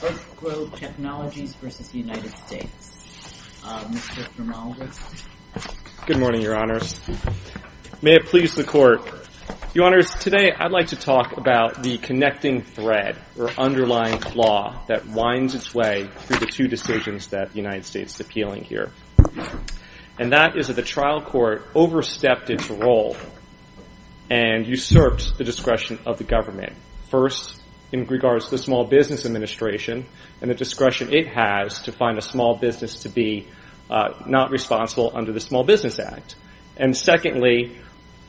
Good morning, Your Honors. May it please the Court. Your Honors, today I'd like to talk about the connecting thread or underlying flaw that winds its way through the two decisions that the United States is appealing here. And that is that the trial court overstepped its role and usurped the discretion of the government. First, in regards to the Small Business Administration and the discretion it has to find a small business to be not responsible under the Small Business Act. And secondly,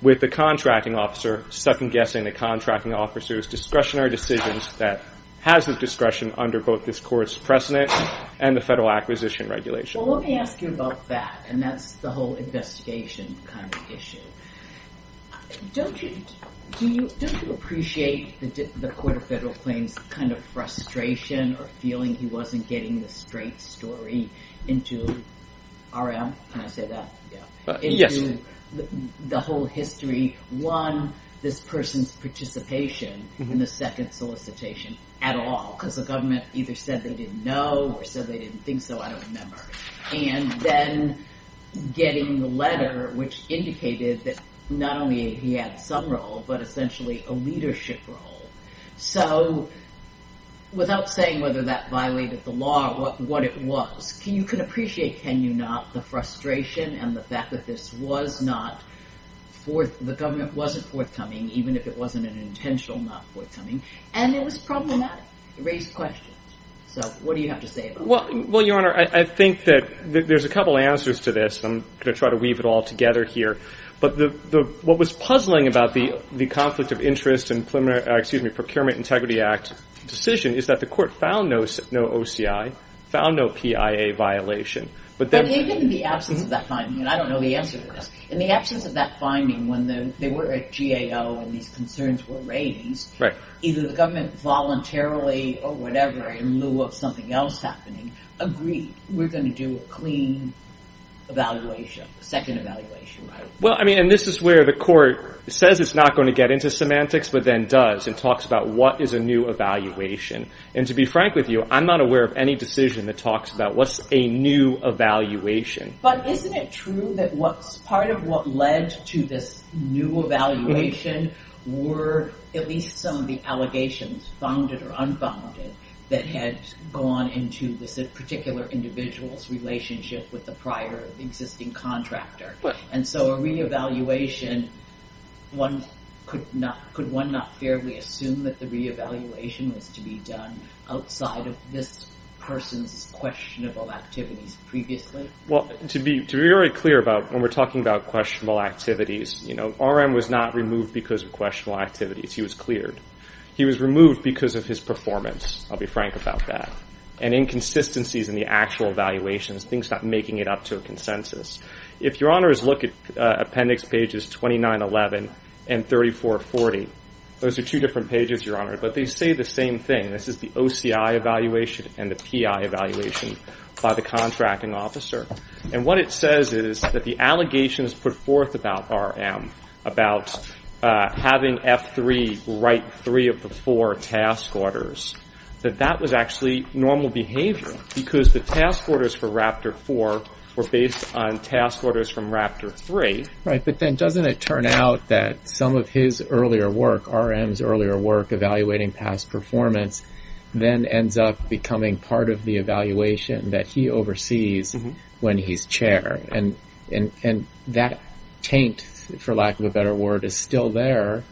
with the contracting officer, second-guessing the contracting officer's discretionary decisions that has the discretion under both this Court's precedent and the Federal Acquisition Regulation. Well, let me ask you about that, and that's the whole investigation kind of issue. Don't you appreciate the Court of Federal Claims kind of frustration or feeling he wasn't getting the straight story into RM? Can I say that? Yes. The whole history, one, this person's participation in the second solicitation at all, because the government either said they didn't know or said they didn't think so, I don't remember. And then getting the letter which indicated that not only he had some role, but essentially a leadership role. So without saying whether that violated the law or what it was, you can appreciate, can you not, the frustration and the fact that this was not forth, the government wasn't forthcoming, even if it wasn't an intentional not forthcoming. And it was problematic. It raised questions. So what do you have to say about that? Well, Your Honor, I think that there's a couple answers to this, and I'm going to try to weave it all together here. But what was puzzling about the conflict of interest in Procurement Integrity Act decision is that the court found no OCI, found no PIA violation. But even in the absence of that finding, and I don't know the answer to this, in the absence of that finding when they were at GAO and these concerns were raised, either the government voluntarily or whatever in lieu of something else happening agreed, we're going to do a clean evaluation, second evaluation, right? Well, I mean, and this is where the court says it's not going to get into semantics, but then does and talks about what is a new evaluation. And to be frank with you, I'm not aware of any decision that talks about what's a new evaluation. But isn't it true that what's part of what led to this new evaluation were at least some of the allegations, founded or unfounded, that had gone into this particular individual's relationship with the prior existing contractor? And so a re-evaluation, could one not fairly assume that the re-evaluation was to be done outside of this person's questionable activities previously? Well, to be very clear about when we're talking about questionable activities, you know, R.M. was not removed because of questionable activities. He was cleared. He was removed because of his performance. I'll be frank about that. And inconsistencies in the actual evaluations, things not making it up to a consensus. If your honors look at appendix pages 2911 and 3440, those are two different pages, your honor, but they say the same thing. This is the OCI evaluation and the PI evaluation by the contracting officer. And what it says is that the allegations put forth about R.M. about having F3 write three of the four task orders, that that was actually normal behavior because the task orders for Raptor 4 were based on task orders from Raptor 3. Right, but then doesn't it turn out that some of his earlier work, R.M.'s earlier work, evaluating past performance, then ends up becoming part of the evaluation that he oversees when he's chair? And that taint, for lack of a better word, is still there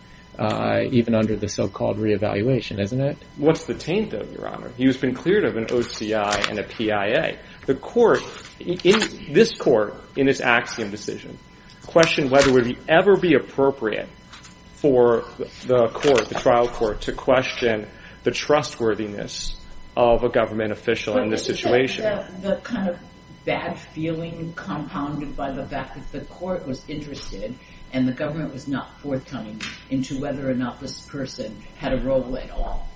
even under the so-called re-evaluation, isn't it? What's the taint, though, your honor? He's been cleared of an OCI and a PIA. The court, this court, in its axiom decision, questioned whether it would ever be appropriate for the court, the trial court, to question the trustworthiness of a government official in this situation. But isn't that the kind of bad feeling compounded by the fact that the court was interested and the government was not forthcoming into whether or not this person had a role at all.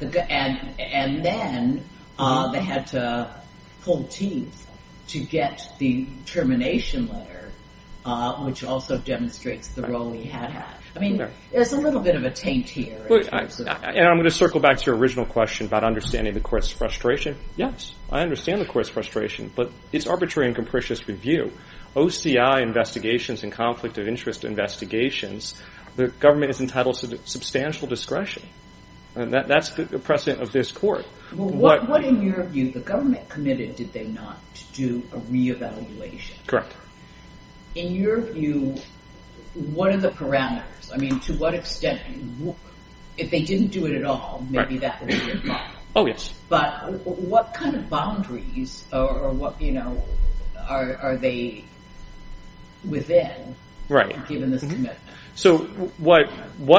And then they had to pull teeth to get the termination letter, which also demonstrates the role he had had. I mean, there's a little bit of a taint here. And I'm going to circle back to your original question about understanding the court's frustration. Yes, I understand the court's frustration, but it's arbitrary and capricious review. OCI investigations and conflict of interest investigations, the government is entitled to substantial discretion. That's the precedent of this court. What, in your view, the government committed, did they not, to do a re-evaluation? Correct. In your view, what are the parameters? I mean, to what extent, if they didn't do it at all, maybe that would be a problem. Oh, yes. But what kind of boundaries are they within, given this commitment? So what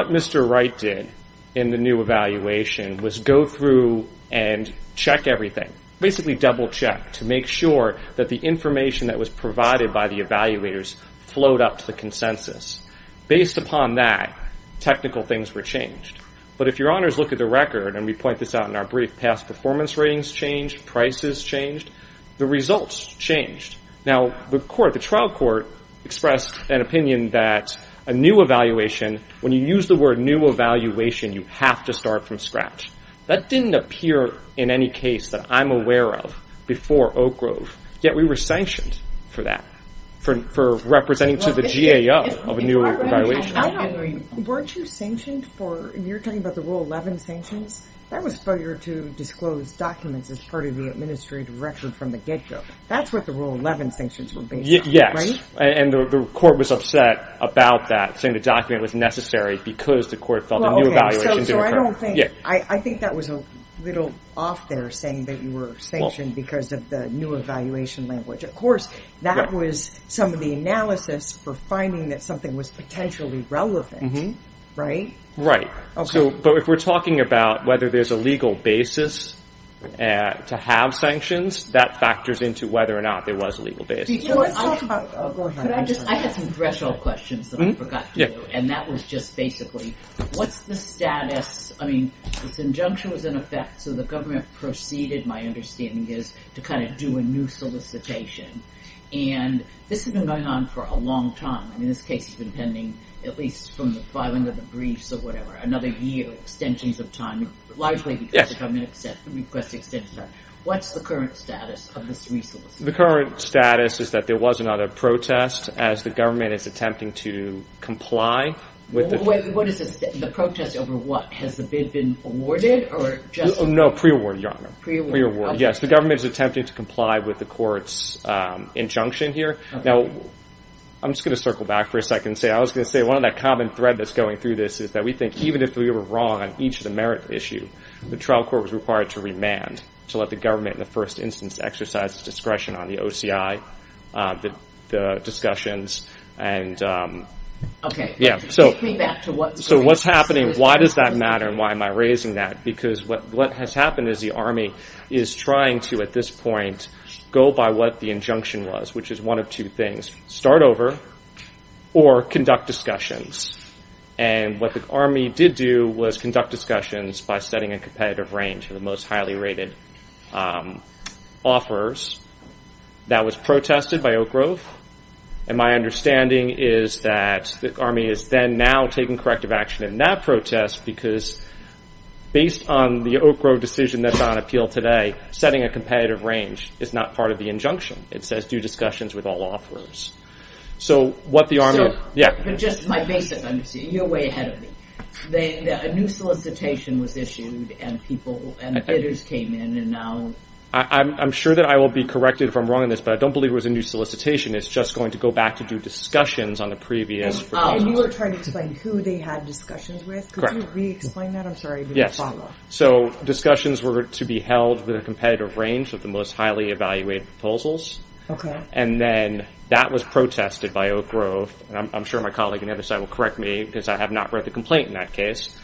Mr. Wright did in the new evaluation was go through and check everything, basically double check, to make sure that the information that was provided by the evaluators flowed up to the consensus. Based upon that, technical things were changed. But if your honors look at the record, and we point this out in our brief, past performance ratings changed, prices changed, the results changed. Now, the trial court expressed an opinion that a new evaluation, when you use the word new evaluation, you have to start from scratch. That didn't appear in any case that I'm aware of before Oak Grove, yet we were sanctioned for that, for representing to the GAO of a new evaluation. Weren't you sanctioned for, you're talking about the Rule 11 sanctions? That was for you to disclose documents as part of the administrative record from the get-go. That's what the Rule 11 sanctions were based on, right? Yes, and the court was upset about that, saying the document was necessary because the court felt a new evaluation didn't occur. So I don't think, I think that was a little off there, saying that you were sanctioned because of the new evaluation language. That was some of the analysis for finding that something was potentially relevant, right? Right. But if we're talking about whether there's a legal basis to have sanctions, that factors into whether or not there was a legal basis. Let's talk about, go ahead. I had some threshold questions that I forgot to do, and that was just basically, what's the status, I mean, this injunction was in effect, so the government proceeded, my understanding is, to kind of do a new solicitation. And this has been going on for a long time. I mean, this case has been pending at least from the filing of the briefs or whatever, another year, extensions of time, largely because the government requested extensions of time. What's the current status of this re-solicitation? The current status is that there was another protest as the government is attempting to comply with the... What is this, the protest over what? Has the bid been awarded or just... No, pre-award, Your Honor. Pre-award. Pre-award, yes. The government is attempting to comply with the court's injunction here. Now, I'm just going to circle back for a second and say, I was going to say one of that common thread that's going through this is that we think, even if we were wrong on each of the merit issue, the trial court was required to remand, to let the government in the first instance exercise its discretion on the OCI, the discussions, and... Okay, take me back to what... So what's happening, why does that matter and why am I raising that? Because what has happened is the Army is trying to, at this point, go by what the injunction was, which is one of two things, start over or conduct discussions. And what the Army did do was conduct discussions by setting a competitive range for the most highly rated offers. That was protested by Oak Grove. And my understanding is that the Army is then now taking corrective action in that protest because based on the Oak Grove decision that's on appeal today, setting a competitive range is not part of the injunction. It says do discussions with all offers. So what the Army... But just my basic understanding, you're way ahead of me. A new solicitation was issued and bidders came in and now... I'm sure that I will be corrected if I'm wrong in this, but I don't believe it was a new solicitation. It's just going to go back to do discussions on the previous proposal. And you were trying to explain who they had discussions with? Correct. Could you re-explain that? I'm sorry, I didn't follow. So discussions were to be held with a competitive range of the most highly evaluated proposals. Okay. And then that was protested by Oak Grove. I'm sure my colleague on the other side will correct me because I have not read the complaint in that case.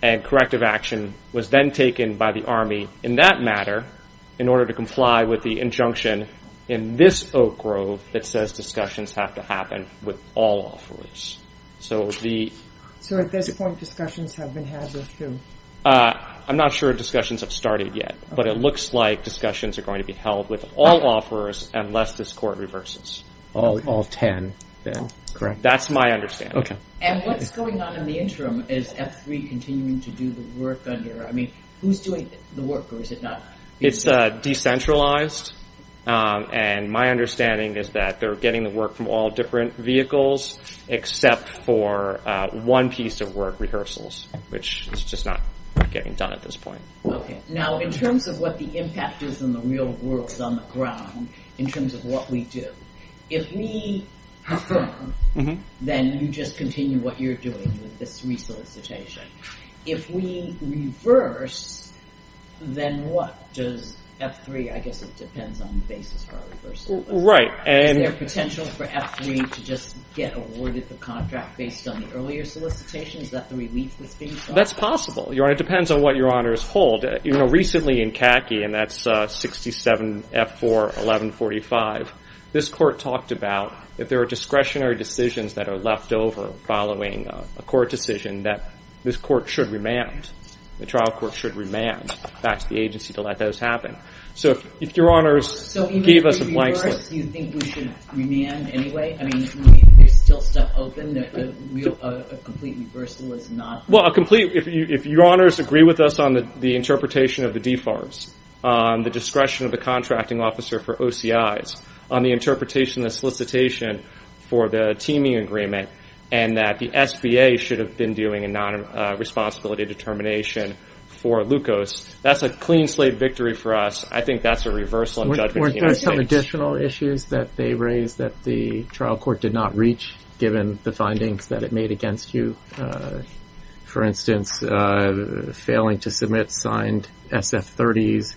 And corrective action was then taken by the Army in that matter in order to comply with the injunction in this Oak Grove that says discussions have to happen with all offers. So at this point discussions have been had with who? I'm not sure discussions have started yet, but it looks like discussions are going to be held with all offers unless this Court reverses. All 10 then, correct? That's my understanding. And what's going on in the interim? Is F3 continuing to do the work under... I mean, who's doing the work or is it not? It's decentralized. And my understanding is that they're getting the work from all different vehicles except for one piece of work, rehearsals, which is just not getting done at this point. Okay. Now in terms of what the impact is in the real world on the ground in terms of what we do, if we confirm, then you just continue what you're doing with this resolicitation. If we reverse, then what? Does F3, I guess it depends on the basis for a reversal. Is there potential for F3 to just get awarded the contract based on the earlier solicitation? Is that the relief that's being sought? That's possible. It depends on what your honors hold. Recently in CACI, and that's 67 F4 1145, this Court talked about if there are discretionary decisions that are left over following a court decision that this court should remand. The trial court should remand. Back to the agency to let those happen. So if your honors gave us a blank slate. So even if we reverse, do you think we should remand anyway? I mean, there's still stuff open that a complete reversal is not. Well, if your honors agree with us on the interpretation of the DFARS, the discretion of the contracting officer for OCIs, on the interpretation of the solicitation for the teaming agreement, and that the SBA should have been doing a non-responsibility determination for LUCOS, that's a clean slate victory for us. I think that's a reversal in judgment to the United States. Were there some additional issues that they raised that the trial court did not reach, given the findings that it made against you? For instance, failing to submit signed SF30s,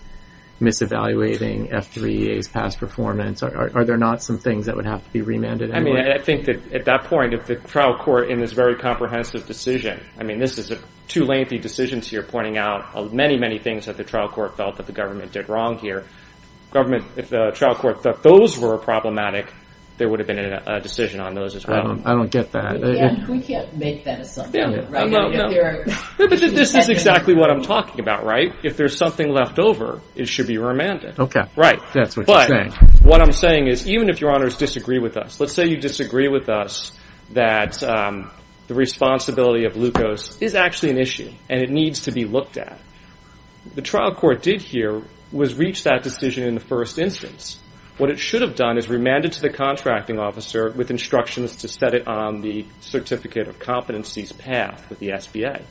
mis-evaluating F3EA's past performance. Are there not some things that would have to be remanded anyway? I mean, I think that at that point, if the trial court in this very comprehensive decision, I mean, this is two lengthy decisions here pointing out many, many things that the trial court felt that the government did wrong here. If the trial court thought those were problematic, there would have been a decision on those as well. I don't get that. We can't make that assumption. No, but this is exactly what I'm talking about, right? If there's something left over, it should be remanded. Okay, that's what you're saying. But what I'm saying is, even if your honors disagree with us, let's say you disagree with us that the responsibility of glucose is actually an issue and it needs to be looked at. What the trial court did here was reach that decision in the first instance. What it should have done is remanded to the contracting officer with instructions to set it on the Certificate of Competencies path with the SBA.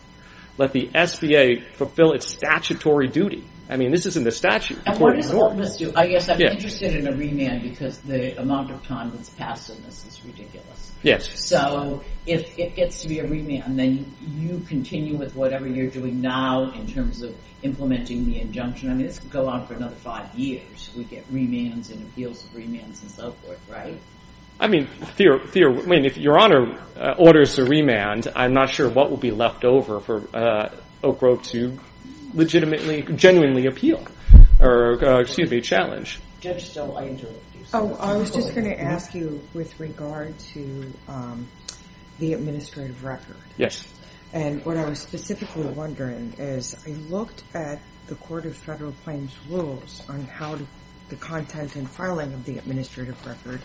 Let the SBA fulfill its statutory duty. I mean, this isn't the statute. And what does a witness do? I guess I'm interested in a remand because the amount of time that's passed on this is ridiculous. Yes. So if it gets to be a remand, then you continue with whatever you're doing now in terms of implementing the injunction. I mean, this could go on for another five years. We get remands and appeals of remands and so forth, right? I mean, if your honor orders a remand, I'm not sure what will be left over for Oak Grove to legitimately, genuinely appeal, or excuse me, challenge. Oh, I was just going to ask you with regard to the administrative record. Yes. And what I was specifically wondering is I looked at the Court of Federal Claims rules on how the content and filing of the administrative record,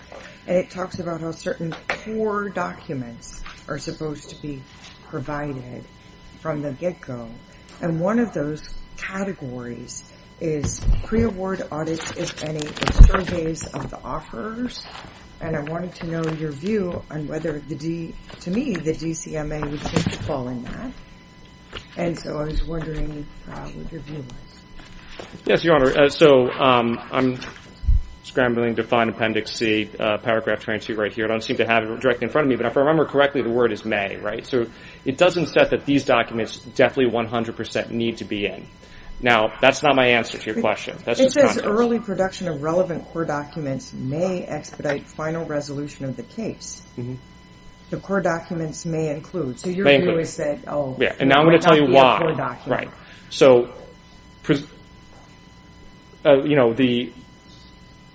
and it talks about how certain core documents are supposed to be provided from the get-go. And one of those categories is pre-award audits, if any, and surveys of the offers. And I wanted to know your view on whether, to me, the DCMA would fall in that. And so I was wondering what your view was. Yes, your honor. So I'm scrambling to find Appendix C, paragraph 22 right here. I don't seem to have it directly in front of me, but if I remember correctly, the word is may, right? So it doesn't say that these documents definitely 100% need to be in. Now, that's not my answer to your question. It says early production of relevant core documents may expedite final resolution of the case. The core documents may include. So your view is that, oh, it might not be a core document. And now I'm going to tell you why. Right. So, you know, the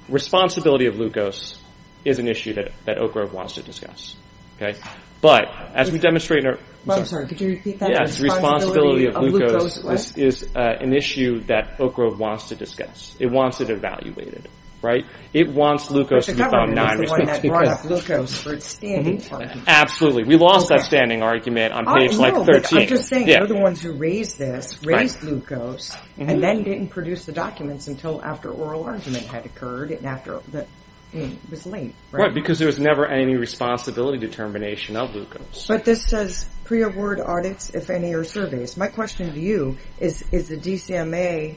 responsibility of glucose is an issue that Oak Grove wants to discuss. But as we demonstrate in our... I'm sorry, could you repeat that? Yes, the responsibility of glucose is an issue that Oak Grove wants to discuss. It wants it evaluated, right? It wants glucose to be found... But the government is the one that brought up glucose for its standing argument. Absolutely. We lost that standing argument on page, like, 13. No, but I'm just saying, you're the ones who raised this, raised glucose, and then didn't produce the documents until after oral argument had occurred and after the... It was late, right? Right, because there was never any responsibility determination of glucose. But this says pre-award audits, if any, or surveys. My question to you is, is the DCMA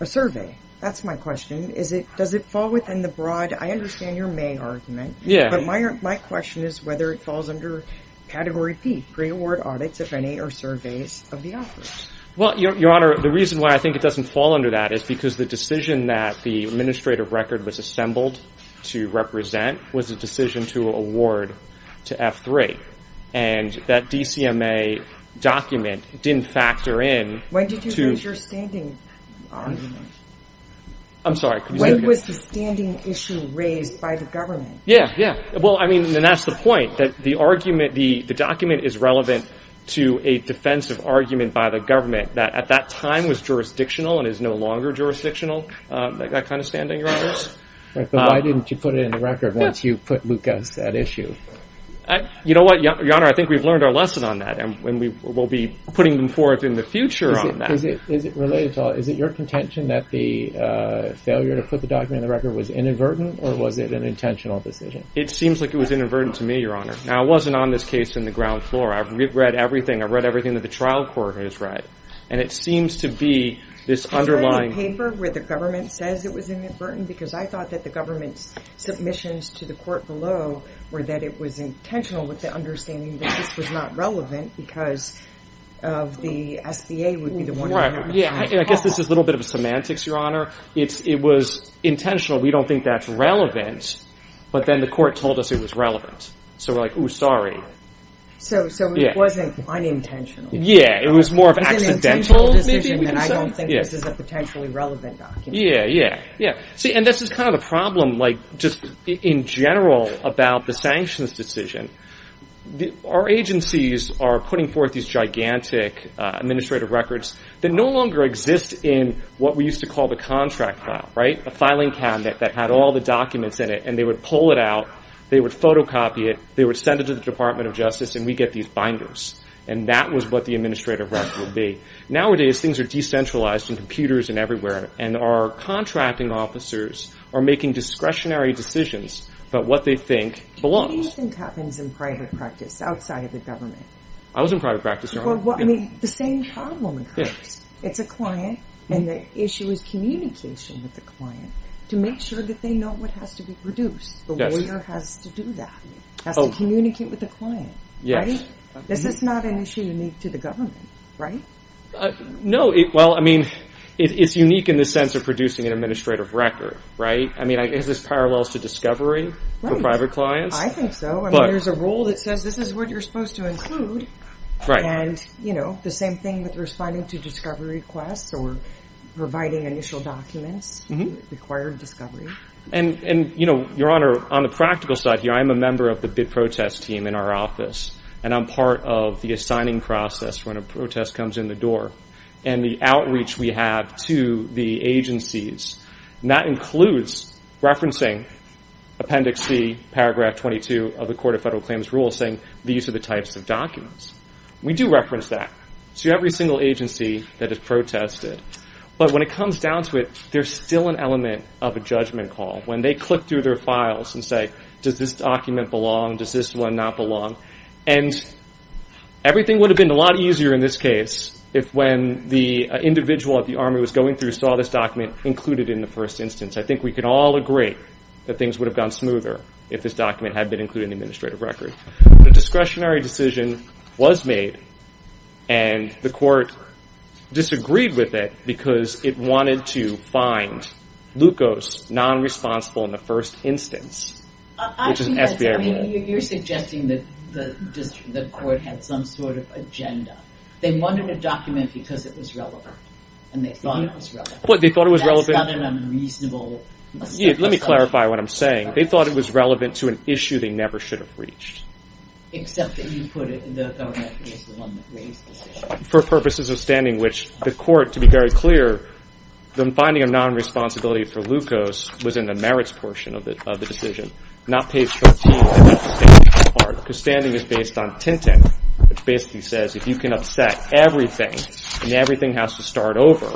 a survey? That's my question. Does it fall within the broad... I understand your may argument. Yeah. But my question is whether it falls under Category P, pre-award audits, if any, or surveys of the authors. Well, Your Honor, the reason why I think it doesn't fall under that is because the decision that the administrative record was assembled to represent was a decision to award to F3. And that DCMA document didn't factor in to... When did you raise your standing argument? I'm sorry, could you say that again? When was the standing issue raised by the government? Yeah, yeah. Well, I mean, and that's the point, that the argument, the document is relevant to a defensive argument by the government that at that time was jurisdictional and is no longer jurisdictional, that kind of standing, Your Honors. But why didn't you put it in the record once you put Lucas at issue? You know what, Your Honor, I think we've learned our lesson on that, and we'll be putting them forth in the future on that. Is it related to... Is it your contention that the failure to put the document in the record was inadvertent, or was it an intentional decision? It seems like it was inadvertent to me, Your Honor. Now, I wasn't on this case in the ground floor. I've read everything. I've read everything that the trial court has read. And it seems to be this underlying... Because I thought that the government's submissions to the court below were that it was intentional with the understanding that this was not relevant because of the SBA would be the one... Right. Yeah, I guess this is a little bit of semantics, Your Honor. It was intentional. We don't think that's relevant. But then the court told us it was relevant. So we're like, ooh, sorry. So it wasn't unintentional. Yeah, it was more of accidental. It was an intentional decision, and I don't think this is a potentially relevant document. Yeah, yeah. See, and this is kind of the problem, like, just in general about the sanctions decision. Our agencies are putting forth these gigantic administrative records that no longer exist in what we used to call the contract file, right? A filing cabinet that had all the documents in it, and they would pull it out, they would photocopy it, they would send it to the Department of Justice, and we'd get these binders. And that was what the administrative record would be. Nowadays, things are decentralized in computers and everywhere, and our contracting officers are making discretionary decisions about what they think belongs. What do you think happens in private practice outside of the government? I was in private practice, Your Honor. Well, I mean, the same problem occurs. It's a client, and the issue is communication with the client to make sure that they know what has to be produced. The lawyer has to do that. Has to communicate with the client, right? Yes. This is not an issue unique to the government, right? No. Well, I mean, it's unique in the sense of producing an administrative record, right? I mean, is this parallel to discovery for private clients? I think so. I mean, there's a rule that says this is what you're supposed to include. Right. And, you know, the same thing with responding to discovery requests or providing initial documents, required discovery. And, you know, Your Honor, on the practical side here, I'm a member of the bid protest team in our office, and I'm part of the assigning process when a protest comes in the door. And the outreach we have to the agencies, and that includes referencing Appendix C, Paragraph 22 of the Court of Federal Claims Rule, saying these are the types of documents. We do reference that to every single agency that has protested. But when it comes down to it, there's still an element of a judgment call. When they click through their files and say, does this document belong, does this one not belong? And everything would have been a lot easier in this case if when the individual that the Army was going through saw this document included in the first instance. I think we could all agree that things would have gone smoother if this document had been included in the administrative record. But a discretionary decision was made, and the court disagreed with it because it wanted to find non-responsible in the first instance, which is SBIR. You're suggesting that the court had some sort of agenda. They wanted a document because it was relevant, and they thought it was relevant. But they thought it was relevant. Let me clarify what I'm saying. They thought it was relevant to an issue they never should have reached. Except that you put it, the government was the one that raised this issue. For purposes of standing, which the court, to be very clear, the finding of non-responsibility for glucose was in the merits portion of the decision, not page 13 of the standing part, because standing is based on TINTIN, which basically says if you can upset everything, and everything has to start over,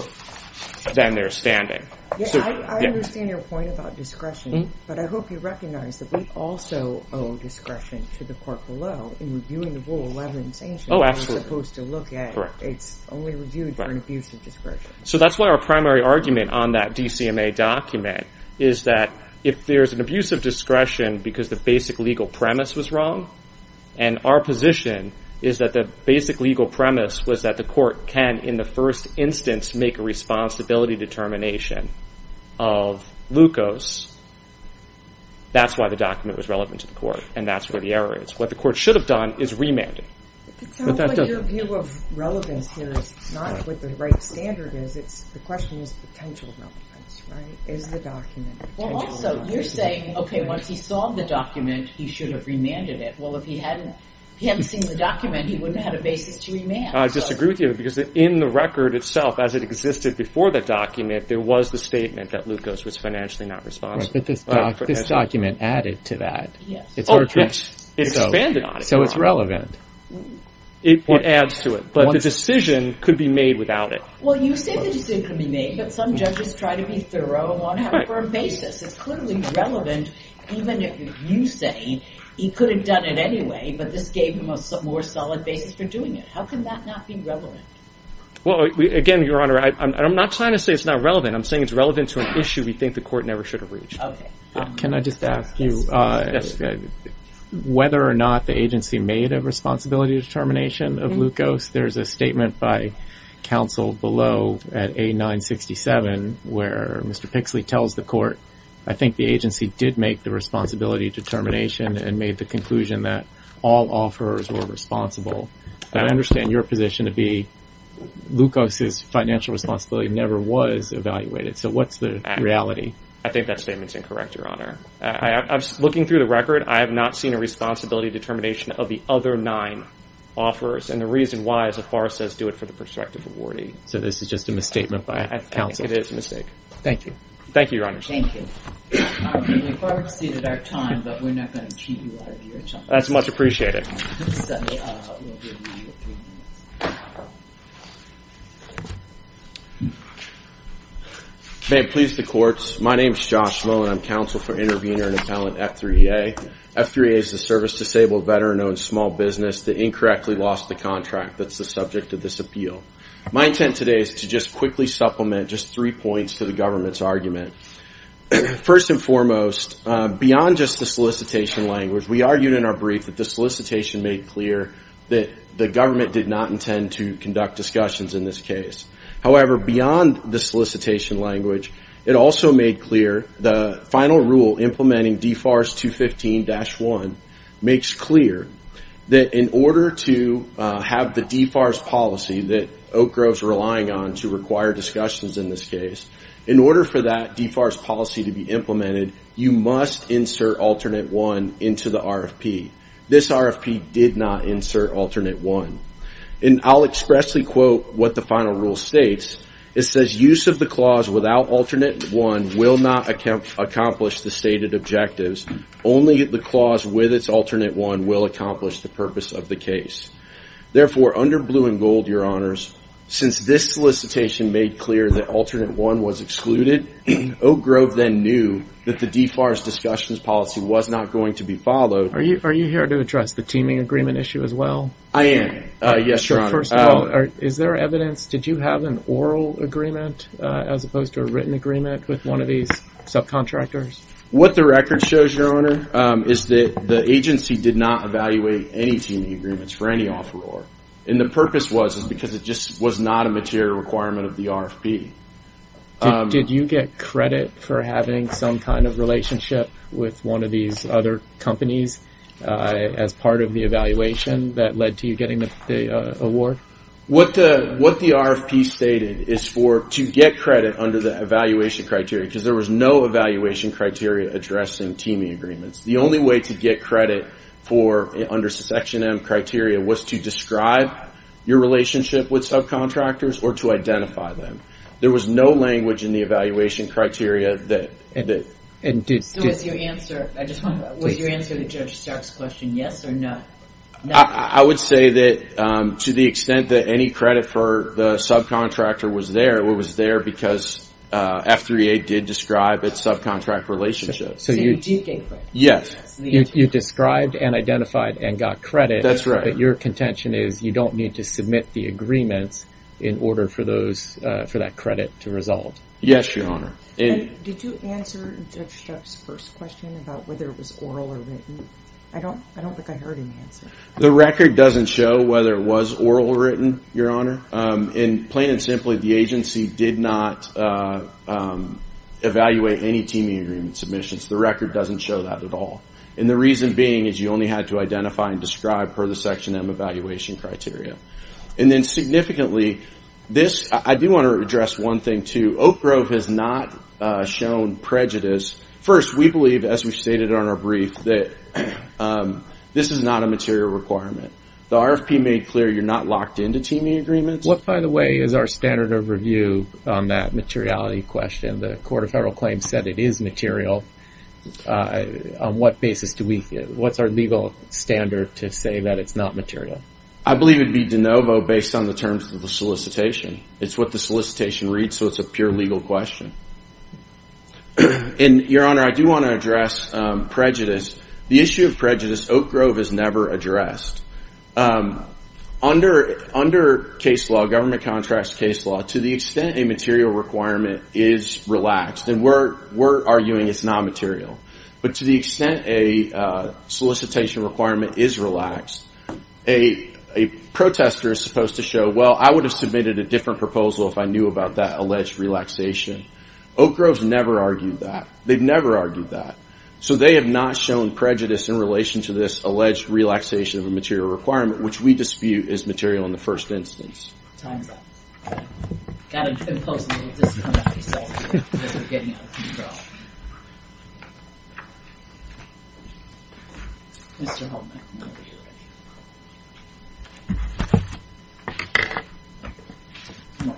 then there's standing. I understand your point about discretion, but I hope you recognize that we also owe discretion to the court below in reviewing the Rule 11 sanctions. Oh, absolutely. It's supposed to look at, it's only reviewed for an abuse of discretion. So that's why our primary argument on that DCMA document is that if there's an abuse of discretion because the basic legal premise was wrong, and our position is that the basic legal premise was that the court can, in the first instance, make a responsibility determination of glucose, that's why the document was relevant to the court, and that's where the error is. What the court should have done is remanded. It sounds like your view of relevance here is not what the right standard is. The question is potential relevance, right? Is the document potential relevance? Also, you're saying, okay, once he saw the document, he should have remanded it. Well, if he hadn't seen the document, he wouldn't have had a basis to remand. I disagree with you, because in the record itself, as it existed before the document, there was the statement that glucose was financially not responsible. But this document added to that. So it's relevant. It adds to it. But the decision could be made without it. Well, you say the decision could be made, but some judges try to be thorough and want to have a firm basis. It's clearly relevant, even if you say he could have done it anyway, but this gave him a more solid basis for doing it. How can that not be relevant? Well, again, Your Honor, I'm not trying to say it's not relevant. I'm saying it's relevant to an issue we think the court never should have reached. Can I just ask you whether or not the agency made a responsibility determination of glucose? There's a statement by counsel below at A967 where Mr. Pixley tells the court, I think the agency did make the responsibility determination and made the conclusion that all offers were responsible. I understand your position to be glucose's financial responsibility never was evaluated. So what's the reality? I think that statement's incorrect, Your Honor. Looking through the record, I have not seen a responsibility determination of the other nine offers, and the reason why is that FAR says do it for the prospective awardee. So this is just a misstatement by counsel. It is a mistake. Thank you. Thank you, Your Honor. Thank you. We've exceeded our time, but we're not going to keep you out of your time. That's much appreciated. Thank you. May it please the courts, my name's Josh Mullen. I'm counsel for intervener in appellant F3A. F3A is the service-disabled veteran-owned small business that incorrectly lost the contract. That's the subject of this appeal. My intent today is to just quickly supplement just three points to the government's argument. First and foremost, beyond just the solicitation language, we argued in our brief that the solicitation made clear that the government did not intend to conduct discussions in this case. However, beyond the solicitation language, it also made clear the final rule implementing DFARS 215-1 makes clear that in order to have the DFARS policy that Oak Grove's relying on to require discussions in this case, in order for that DFARS policy to be implemented, you must insert Alternate 1 into the RFP. This RFP did not insert Alternate 1. And I'll expressly quote what the final rule states. It says, use of the clause without Alternate 1 will not accomplish the stated objectives. Only the clause with its Alternate 1 will accomplish the purpose of the case. Therefore, under blue and gold, your honors, since this solicitation made clear that Alternate 1 was excluded, Oak Grove then knew that the DFARS discussions policy was not going to be followed. Are you here to address the teaming agreement issue as well? I am. Yes, your honor. First of all, is there evidence, did you have an oral agreement as opposed to a written agreement with one of these subcontractors? What the record shows, your honor, is that the agency did not evaluate any teaming agreements for any offeror. And the purpose was because it just was not a material requirement of the RFP. Did you get credit for having some kind of relationship with one of these other companies as part of the evaluation that led to you getting the award? What the RFP stated is for, to get credit under the evaluation criteria, because there was no evaluation criteria addressing teaming agreements. The only way to get credit for, under Section M criteria, was to describe your relationship with subcontractors or to identify them. There was no language in the evaluation criteria that... Was your answer to Judge Stark's question yes or no? I would say that to the extent that any credit for the subcontractor was there, it was there because F3A did describe its subcontract relationship. So you did get credit? Yes. You described and identified and got credit. That's right. But your contention is you don't need to submit the agreements in order for that credit to resolve? Yes, your honor. Did you answer Judge Stark's first question about whether it was oral or written? I don't think I heard an answer. The record doesn't show whether it was oral or written, your honor. And plain and simply, the agency did not evaluate any teaming agreement submissions. The record doesn't show that at all. And the reason being is you only had to identify and describe per the Section M evaluation criteria. And then significantly, this... I do want to address one thing, too. Oak Grove has not shown prejudice. First, we believe, as we've stated on our brief, that this is not a material requirement. The RFP made clear you're not locked into teaming agreements. What, by the way, is our standard of review on that materiality question? The Court of Federal Claims said it is material. On what basis do we... What's our legal standard to say that it's not material? I believe it would be de novo based on the terms of the solicitation. It's what the solicitation reads, so it's a pure legal question. And, your honor, I do want to address prejudice. The issue of prejudice, Oak Grove has never addressed. Under case law, government contracts case law, to the extent a material requirement is relaxed, and we're arguing it's not material, but to the extent a solicitation requirement is relaxed, a protester is supposed to show, well, I would have submitted a different proposal if I knew about that alleged relaxation. Oak Grove's never argued that. They've never argued that. So they have not shown prejudice in relation to this alleged relaxation of a material requirement, which we dispute is material in the first instance.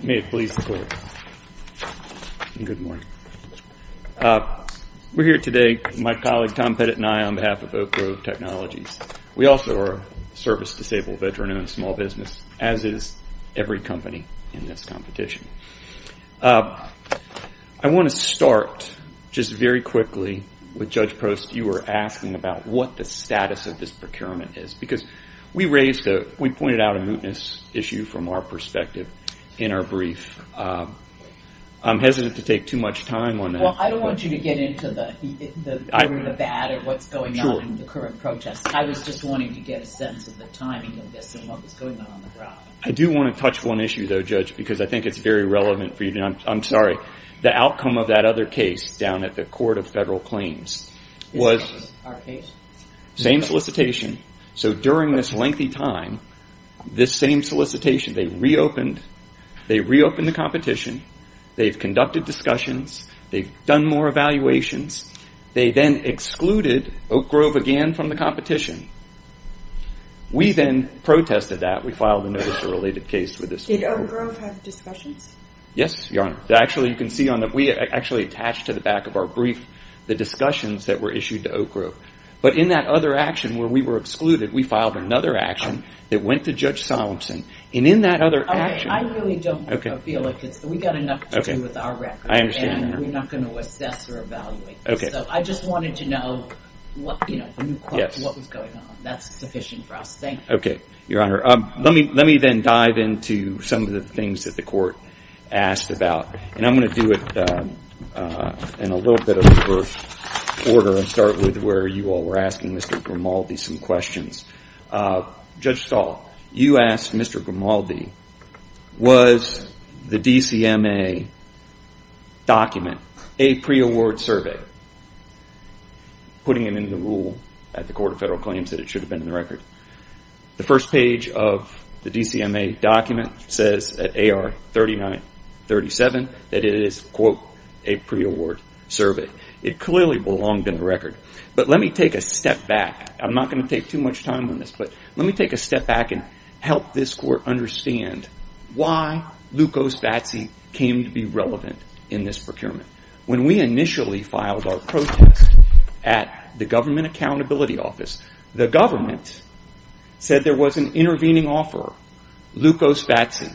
May it please the Court. Good morning. We're here today, my colleague Tom Pettit and I, on behalf of Oak Grove Technologies. We also are a service-disabled veteran-owned small business, as is every company in this competition. I want to start just very quickly with Judge Prost. You were asking about what the status of this procurement is, because we pointed out a mootness issue from our perspective in our brief. I'm hesitant to take too much time on that. Well, I don't want you to get into the good or the bad or what's going on in the current protests. I was just wanting to get a sense of the timing of this and what was going on on the ground. I do want to touch one issue, though, Judge, because I think it's very relevant for you. I'm sorry. The outcome of that other case down at the Court of Federal Claims was the same solicitation. So during this lengthy time, this same solicitation, they reopened the competition. They've conducted discussions. They've done more evaluations. They then excluded Oak Grove again from the competition. We then protested that. We filed a notice of related case with this group. Did Oak Grove have discussions? Yes, Your Honor. Actually, you can see on that. We actually attached to the back of our brief the discussions that were issued to Oak Grove. But in that other action where we were excluded, we filed another action that went to Judge Solomson. And in that other action— I really don't feel like it's—we've got enough to do with our record. I understand, Your Honor. And we're not going to assess or evaluate this. So I just wanted to know what was going on. That's sufficient for us. Thank you. Okay, Your Honor. Let me then dive into some of the things that the Court asked about. And I'm going to do it in a little bit of reverse order and start with where you all were asking Mr. Grimaldi some questions. Judge Stahl, you asked Mr. Grimaldi, was the DCMA document a pre-award survey? Putting it into rule at the Court of Federal Claims that it should have been in the record. The first page of the DCMA document says at AR 3937 that it is, quote, a pre-award survey. It clearly belonged in the record. But let me take a step back. I'm not going to take too much time on this. But let me take a step back and help this Court understand why Lukos Vatsy came to be relevant in this procurement. When we initially filed our protest at the Government Accountability Office, the government said there was an intervening offeror, Lukos Vatsy,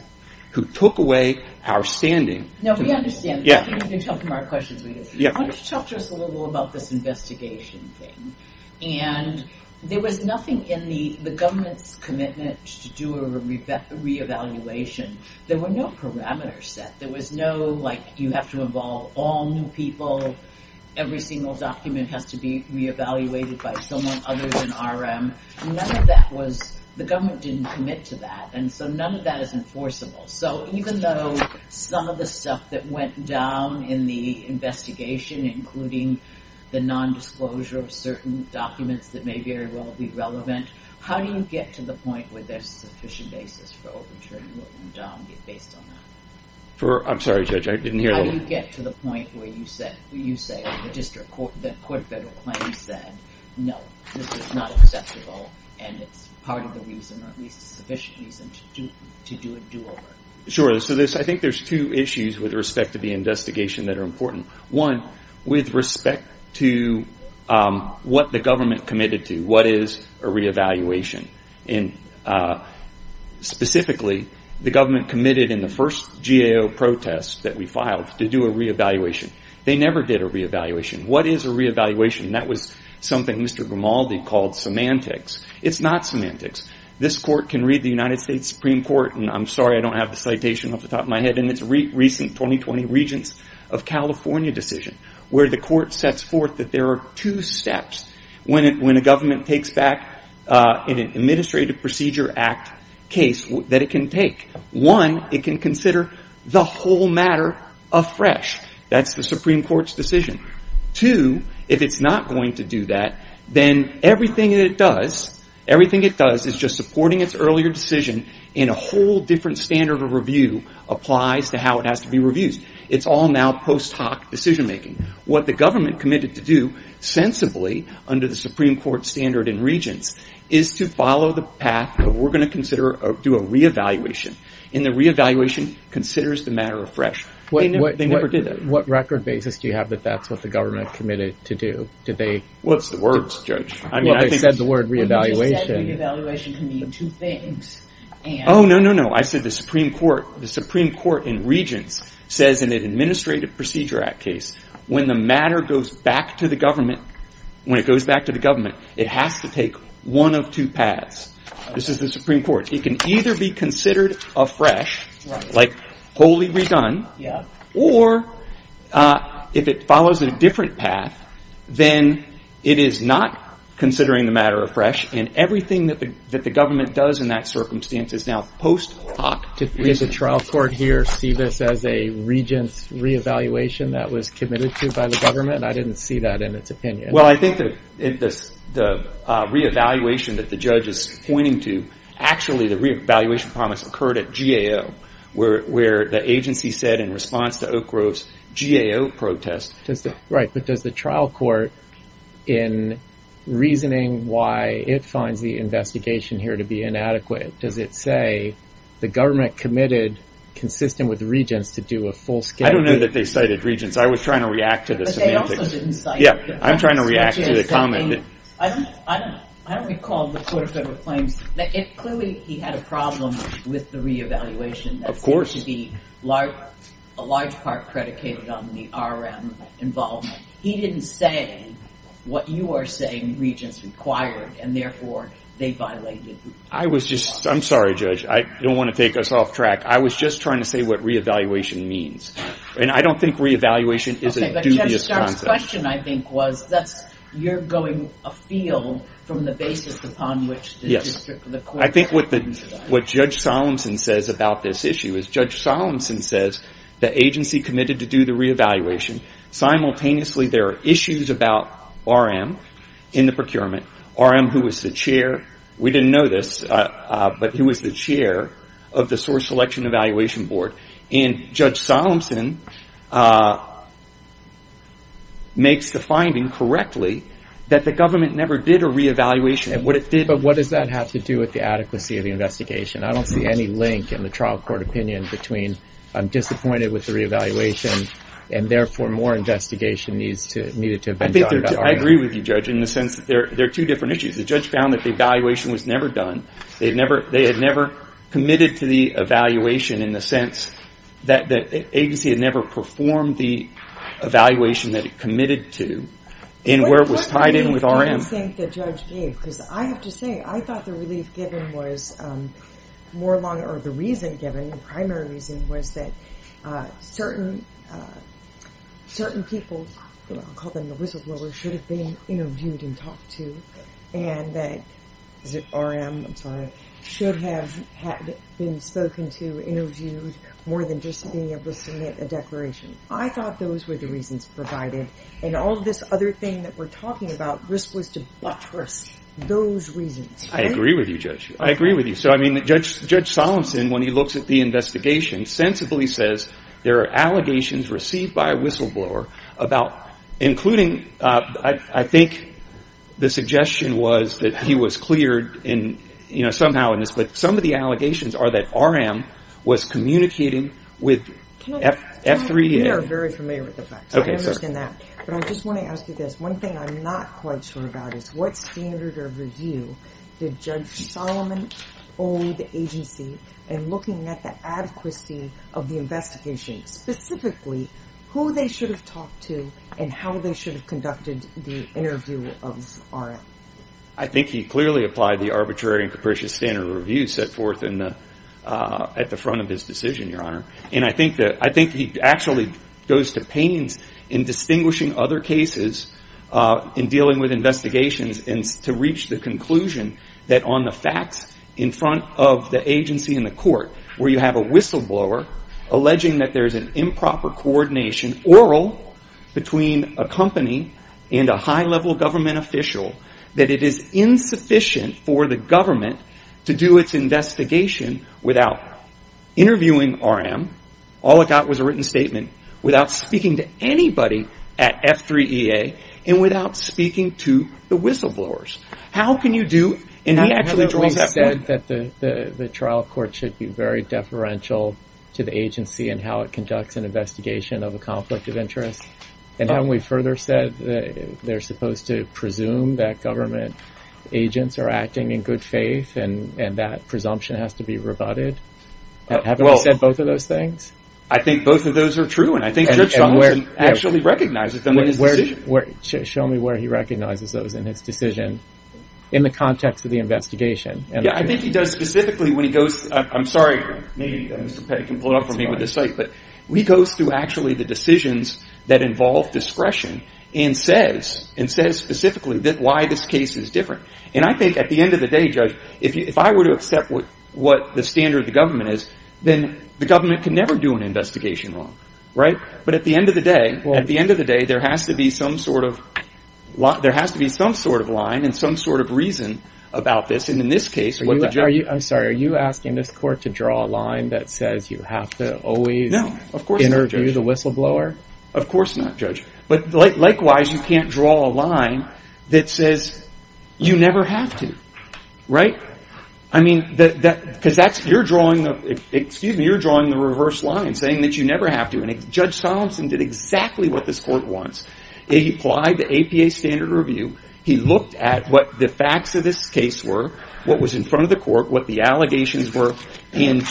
who took away our standing. No, we understand. I think you can tell from our questions. Why don't you talk to us a little bit about this investigation thing. And there was nothing in the government's commitment to do a re-evaluation. There were no parameters set. There was no, like, you have to involve all new people. Every single document has to be re-evaluated by someone other than RM. None of that was – the government didn't commit to that. And so none of that is enforceable. So even though some of the stuff that went down in the investigation, including the nondisclosure of certain documents that may very well be relevant, how do you get to the point where there's sufficient basis for overturning what went down based on that? I'm sorry, Judge. I didn't hear the question. How do you get to the point where you say the court of federal claims said, no, this is not acceptable, and it's part of the reason or at least sufficient reason to do a do-over? Sure. So I think there's two issues with respect to the investigation that are important. One, with respect to what the government committed to. What is a re-evaluation? Specifically, the government committed in the first GAO protest that we filed to do a re-evaluation. They never did a re-evaluation. What is a re-evaluation? That was something Mr. Grimaldi called semantics. It's not semantics. This court can read the United States Supreme Court – and I'm sorry, I don't have the citation off the top of my head – in its recent 2020 Regents of California decision, where the court sets forth that there are two steps. When a government takes back an Administrative Procedure Act case that it can take. One, it can consider the whole matter afresh. That's the Supreme Court's decision. Two, if it's not going to do that, then everything it does is just supporting its earlier decision in a whole different standard of review applies to how it has to be reviewed. It's all now post hoc decision making. What the government committed to do sensibly under the Supreme Court standard in Regents is to follow the path of we're going to do a re-evaluation. And the re-evaluation considers the matter afresh. They never did that. What record basis do you have that that's what the government committed to do? What's the words, Judge? Well, they said the word re-evaluation. Well, they just said re-evaluation can mean two things. Oh, no, no, no. I said the Supreme Court in Regents says in an Administrative Procedure Act case when the matter goes back to the government, when it goes back to the government, it has to take one of two paths. This is the Supreme Court. It can either be considered afresh, like wholly redone, or if it follows a different path, then it is not considering the matter afresh, and everything that the government does in that circumstance is now post hoc decision making. Did the trial court here see this as a Regents re-evaluation that was committed to by the government? I didn't see that in its opinion. Well, I think the re-evaluation that the judge is pointing to, actually the re-evaluation promise occurred at GAO, where the agency said in response to Oak Grove's GAO protest. Right, but does the trial court, in reasoning why it finds the investigation here to be inadequate, does it say the government committed, consistent with Regents, to do a full-scale re-evaluation? I don't know that they cited Regents. I was trying to react to the semantics. But they also didn't cite Regents. Yeah, I'm trying to react to the comment. I don't recall the Court of Federal Claims. Clearly, he had a problem with the re-evaluation. Of course. That seems to be a large part predicated on the RM involvement. He didn't say what you are saying Regents required, and therefore they violated. I'm sorry, Judge. I don't want to take us off track. I was just trying to say what re-evaluation means. I don't think re-evaluation is a dubious concept. Okay, but Judge Starr's question, I think, was you're going afield from the basis upon which the court... Yes. I think what Judge Solemson says about this issue is, Judge Solemson says the agency committed to do the re-evaluation. Simultaneously, there are issues about RM in the procurement, RM who was the chair. We didn't know this, but he was the chair of the Source Selection Evaluation Board. And Judge Solemson makes the finding correctly that the government never did a re-evaluation. But what does that have to do with the adequacy of the investigation? I don't see any link in the trial court opinion between I'm disappointed with the re-evaluation, and therefore more investigation needed to have been done about RM. I agree with you, Judge, in the sense that there are two different issues. The judge found that the evaluation was never done. They had never committed to the evaluation in the sense that the agency had never performed the evaluation that it committed to, and where it was tied in with RM. What do you think the judge gave? Because I have to say, I thought the relief given was more along, or the reason given, the primary reason, was that certain people, I'll call them the whistleblowers, should have been interviewed and talked to, and that RM, I'm sorry, should have been spoken to, interviewed, more than just being able to submit a declaration. I thought those were the reasons provided. And all this other thing that we're talking about was to buttress those reasons. I agree with you, Judge. I agree with you. So, I mean, Judge Solemson, when he looks at the investigation, sensibly says there are allegations received by a whistleblower about, including, I think the suggestion was that he was cleared somehow in this, but some of the allegations are that RM was communicating with F3A. We are very familiar with the facts. I understand that. But I just want to ask you this. One thing I'm not quite sure about is what standard of review did Judge Solomon owe the agency in looking at the adequacy of the investigation? Specifically, who they should have talked to and how they should have conducted the interview of RM? I think he clearly applied the arbitrary and capricious standard of review set forth at the front of his decision, Your Honor. And I think he actually goes to pains in distinguishing other cases, in dealing with investigations, and to reach the conclusion that on the facts in front of the agency in the court, where you have a whistleblower alleging that there is an improper coordination, oral, between a company and a high-level government official, that it is insufficient for the government to do its investigation without interviewing RM, all it got was a written statement, without speaking to anybody at F3A, and without speaking to the whistleblowers. How can you do... He actually said that the trial court should be very deferential to the agency in how it conducts an investigation of a conflict of interest. And haven't we further said that they're supposed to presume that government agents are acting in good faith, and that presumption has to be rebutted? Haven't we said both of those things? I think both of those are true, and I think Judge Summerson actually recognizes them in his decision. Show me where he recognizes those in his decision, in the context of the investigation. Yeah, I think he does specifically when he goes... I'm sorry, maybe Mr. Petty can pull it off for me with his sight, but he goes through actually the decisions that involve discretion, and says specifically why this case is different. And I think at the end of the day, Judge, if I were to accept what the standard of the government is, then the government can never do an investigation wrong. But at the end of the day, there has to be some sort of line and some sort of reason about this, and in this case... I'm sorry, are you asking this court to draw a line that says you have to always interview the whistleblower? No, of course not, Judge. But likewise, you can't draw a line that says you never have to. Right? Because you're drawing the reverse line, saying that you never have to, and Judge Solomson did exactly what this court wants. He applied the APA standard review. He looked at what the facts of this case were, what was in front of the court, what the allegations were, including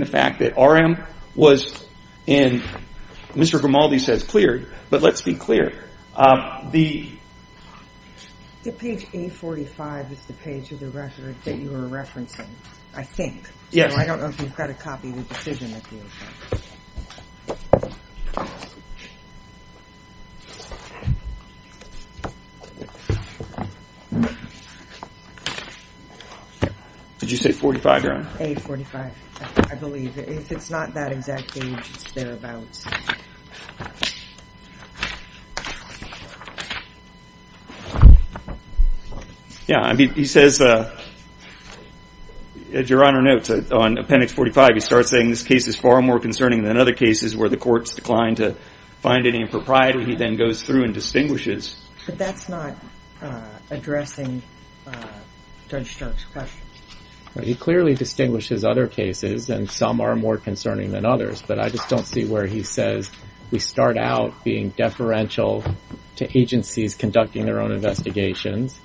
the fact that RM was, and Mr. Grimaldi says cleared, but let's be clear. The page 845 is the page that you were referencing, I think. Yes. Well, I don't know if you've got a copy of the decision. Did you say 45, Your Honor? 845, I believe. It's not that exact page. It's thereabouts. Yeah. He says, Your Honor, notes on appendix 45, he starts saying this case is far more concerning than other cases where the courts declined to find any impropriety. He then goes through and distinguishes. But that's not addressing Judge Stokes' question. He clearly distinguishes other cases, and some are more concerning than others, but I just don't see where he's saying that. He says we start out being deferential to agencies conducting their own investigations,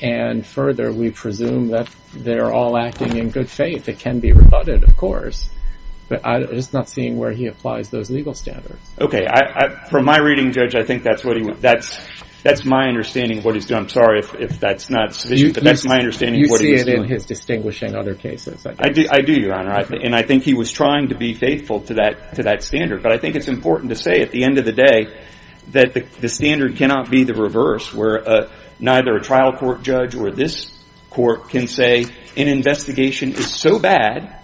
and further we presume that they're all acting in good faith. It can be rebutted, of course, but I'm just not seeing where he applies those legal standards. Okay. From my reading, Judge, I think that's my understanding of what he's doing. I'm sorry if that's not sufficient, but that's my understanding of what he's doing. You see it in his distinguishing other cases, I guess. I do, Your Honor, and I think he was trying to be faithful to that standard, but I think it's important to say at the end of the day that the standard cannot be the reverse where neither a trial court judge or this court can say an investigation is so bad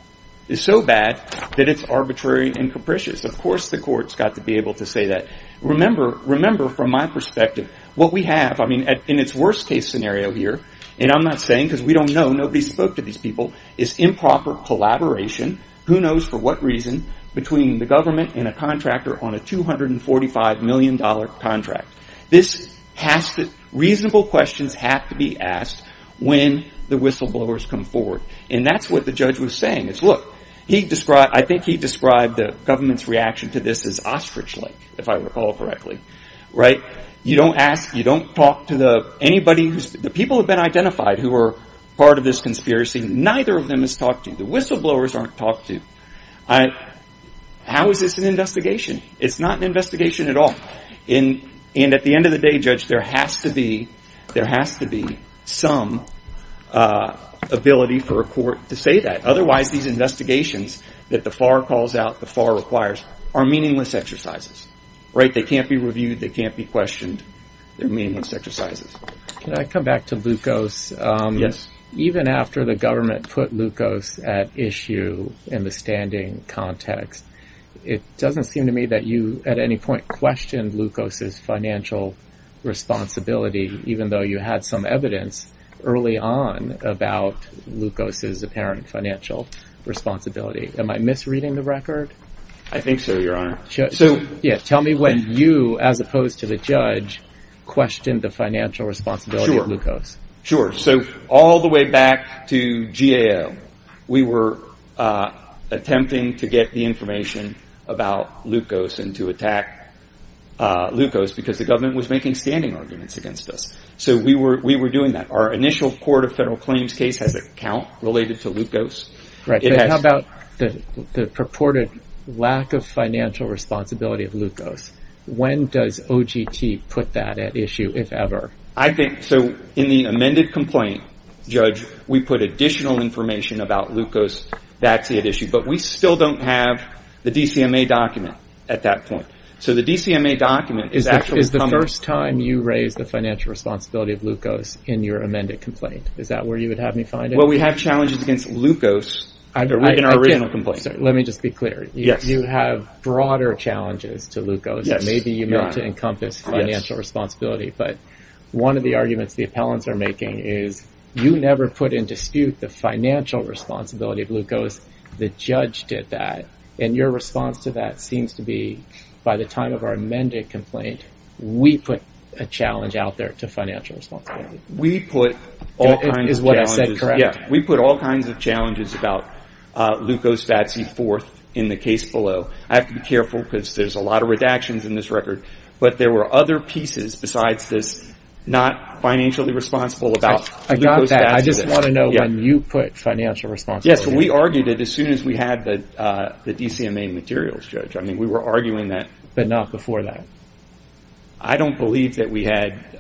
that it's arbitrary and capricious. Of course the court's got to be able to say that. Remember, from my perspective, what we have in its worst-case scenario here, and I'm not saying because we don't know, nobody spoke to these people, is improper collaboration, who knows for what reason, between the government and a contractor on a $245 million contract. This has to, reasonable questions have to be asked when the whistleblowers come forward, and that's what the judge was saying, is look, he described, I think he described the government's reaction to this as ostrich lake, if I recall correctly, right? You don't ask, you don't talk to the, anybody who's, the people who've been identified who are part of this conspiracy, neither of them has talked to you. The whistleblowers aren't talked to. How is this an investigation? It's not an investigation at all. And at the end of the day, judge, there has to be some ability for a court to say that. Otherwise these investigations that the FAR calls out, the FAR requires, are meaningless exercises, right? They can't be reviewed, they can't be questioned, they're meaningless exercises. Can I come back to glucose? Yes. Even after the government put glucose at issue in the standing context, it doesn't seem to me that you at any point questioned glucose's financial responsibility, even though you had some evidence early on about glucose's apparent financial responsibility. Am I misreading the record? I think so, your honor. Tell me when you, as opposed to the judge, questioned the financial responsibility of glucose. Sure. So all the way back to GAO, we were attempting to get the information about glucose and to attack glucose because the government was making standing arguments against us. So we were doing that. Our initial court of federal claims case has a count related to glucose. How about the purported lack of financial responsibility of glucose? When does OGT put that at issue, if ever? So in the amended complaint, judge, we put additional information about glucose. That's at issue. But we still don't have the DCMA document at that point. So the DCMA document is actually coming. Is the first time you raised the financial responsibility of glucose in your amended complaint? Is that where you would have me find it? Well, we have challenges against glucose in our original complaint. Let me just be clear. You have broader challenges to glucose. Maybe you meant to encompass financial responsibility, but one of the arguments the appellants are making is you never put in dispute the financial responsibility of glucose. The judge did that. And your response to that seems to be, by the time of our amended complaint, we put a challenge out there to financial responsibility. We put all kinds of challenges. Is what I said correct? Yeah. We put all kinds of challenges about glucose fat C4 in the case below. I have to be careful because there's a lot of redactions in this record. But there were other pieces besides this not financially responsible about glucose. I got that. I just want to know when you put financial responsibility. Yes. We argued it as soon as we had the DCMA materials, Judge. I mean, we were arguing that. But not before that? I don't believe that we had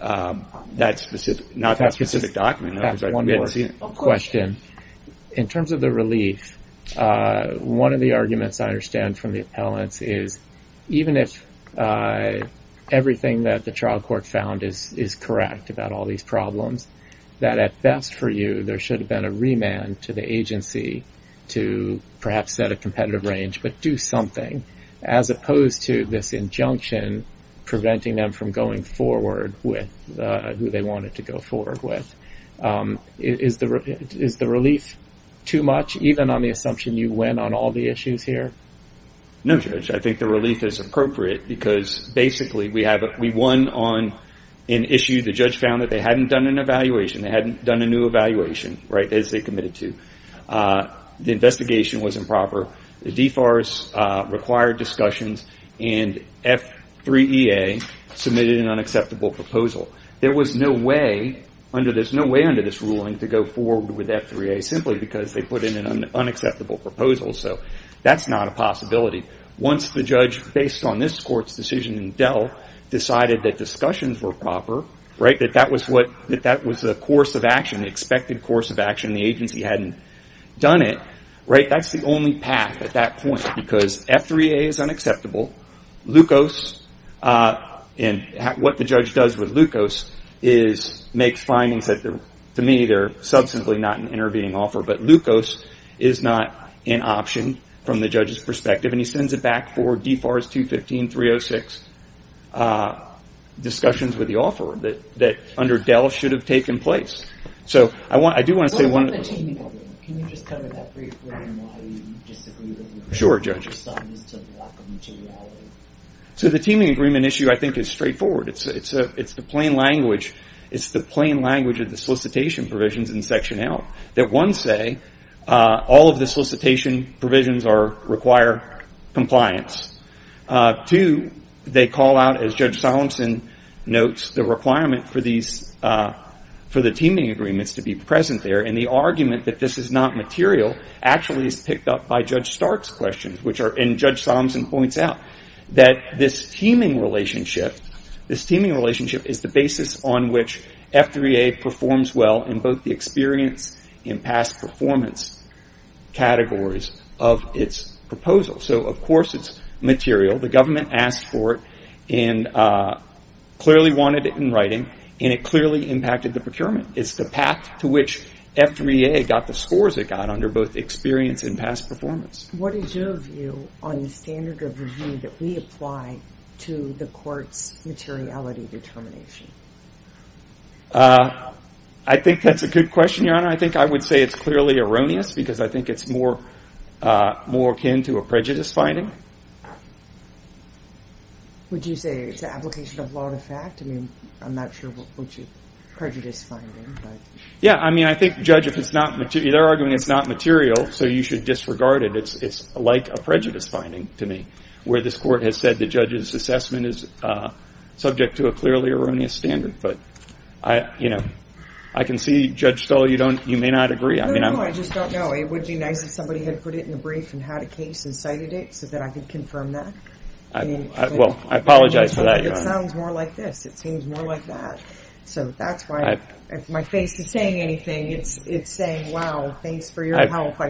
that specific document. That's one more question. In terms of the relief, one of the arguments I understand from the appellants is even if everything that the trial court found is correct about all these problems, that at best for you there should have been a remand to the agency to perhaps set a competitive range, but do something as opposed to this injunction preventing them from going forward with who they wanted to go forward with. Is the relief too much, even on the assumption you win on all the issues here? No, Judge. I think the relief is appropriate because basically we won on an issue. The judge found that they hadn't done an evaluation. They hadn't done a new evaluation as they committed to. The investigation was improper. The DFARS required discussions, and F3EA submitted an unacceptable proposal. There was no way under this ruling to go forward with F3EA simply because they put in an unacceptable proposal. That's not a possibility. Once the judge, based on this court's decision in Dell, decided that discussions were proper, that that was the course of action, the expected course of action, and the agency hadn't done it, that's the only path at that point because F3EA is unacceptable. What the judge does with LUCOS makes findings that to me are substantially not an intervening offer, but LUCOS is not an option from the judge's perspective, and he sends it back for DFARS 215-306 discussions with the offeror that under Dell should have taken place. I do want to say one other thing. What about the teaming agreement? Can you just cover that briefly? I don't know how you disagree with it. Sure, Judge. I'm just starting to block the materiality. The teaming agreement issue, I think, is straightforward. It's the plain language of the solicitation provisions in Section L that, one, say all of the solicitation provisions require compliance. Two, they call out, as Judge Solemson notes, the requirement for the teaming agreements to be present there, and the argument that this is not material actually is picked up by Judge Stark's questions, and Judge Solemson points out that this teaming relationship is the basis on which F3EA performs well in both the experience and past performance categories of its proposal. So, of course, it's material. The government asked for it and clearly wanted it in writing, and it clearly impacted the procurement. It's the path to which F3EA got the scores it got under both experience and past performance. What is your view on the standard of review that we apply to the court's materiality determination? I think that's a good question, Your Honor. I think I would say it's clearly erroneous because I think it's more akin to a prejudice finding. Would you say it's an application of law to fact? I mean, I'm not sure what you prejudice finding, but. Yeah, I mean, I think, Judge, if it's not material, they're arguing it's not material, so you should disregard it. It's like a prejudice finding to me, where this court has said the judge's assessment is subject to a clearly erroneous standard. But, you know, I can see, Judge Stoll, you may not agree. No, no, I just don't know. It would be nice if somebody had put it in a brief and had a case and cited it so that I could confirm that. Well, I apologize for that, Your Honor. It sounds more like this. It seems more like that. So that's why my face isn't saying anything. I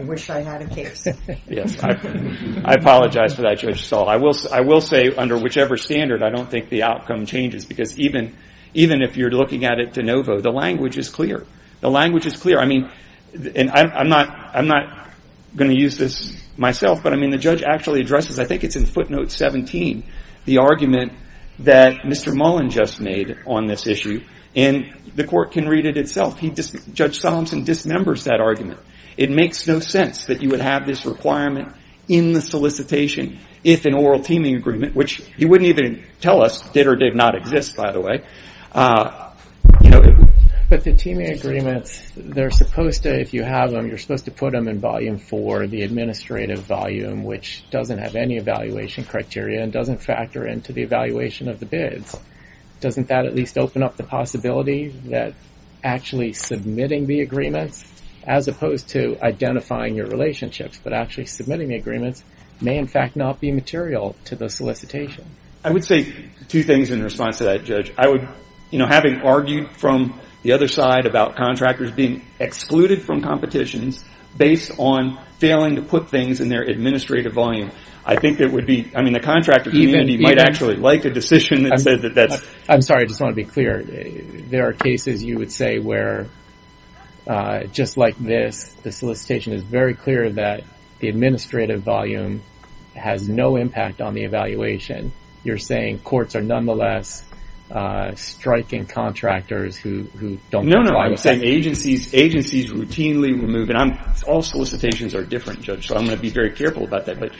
wish I had a case. Yes, I apologize for that, Judge Stoll. I will say, under whichever standard, I don't think the outcome changes, because even if you're looking at it de novo, the language is clear. The language is clear. I mean, and I'm not going to use this myself, but, I mean, the judge actually addresses, I think it's in footnote 17, the argument that Mr. Mullen just made on this issue, and the court can read it itself. Judge Solomson dismembers that argument. It makes no sense that you would have this requirement in the solicitation if an oral teaming agreement, which he wouldn't even tell us did or did not exist, by the way. But the teaming agreements, they're supposed to, if you have them, you're supposed to put them in volume four, the administrative volume, which doesn't have any evaluation criteria and doesn't factor into the evaluation of the bids. Doesn't that at least open up the possibility that actually submitting the agreements, as opposed to identifying your relationships, but actually submitting the agreements, may in fact not be material to the solicitation? I would say two things in response to that, Judge. I would, you know, having argued from the other side about contractors being excluded from competitions based on failing to put things in their administrative volume, I think it would be, I mean, the contractor community might actually like a decision that says that that's... I'm sorry, I just want to be clear. There are cases, you would say, where just like this, the solicitation is very clear that the administrative volume has no impact on the evaluation. You're saying courts are nonetheless striking contractors who don't comply with... No, no, I'm saying agencies routinely remove, and all solicitations are different, Judge, so I'm going to be very careful about that. But,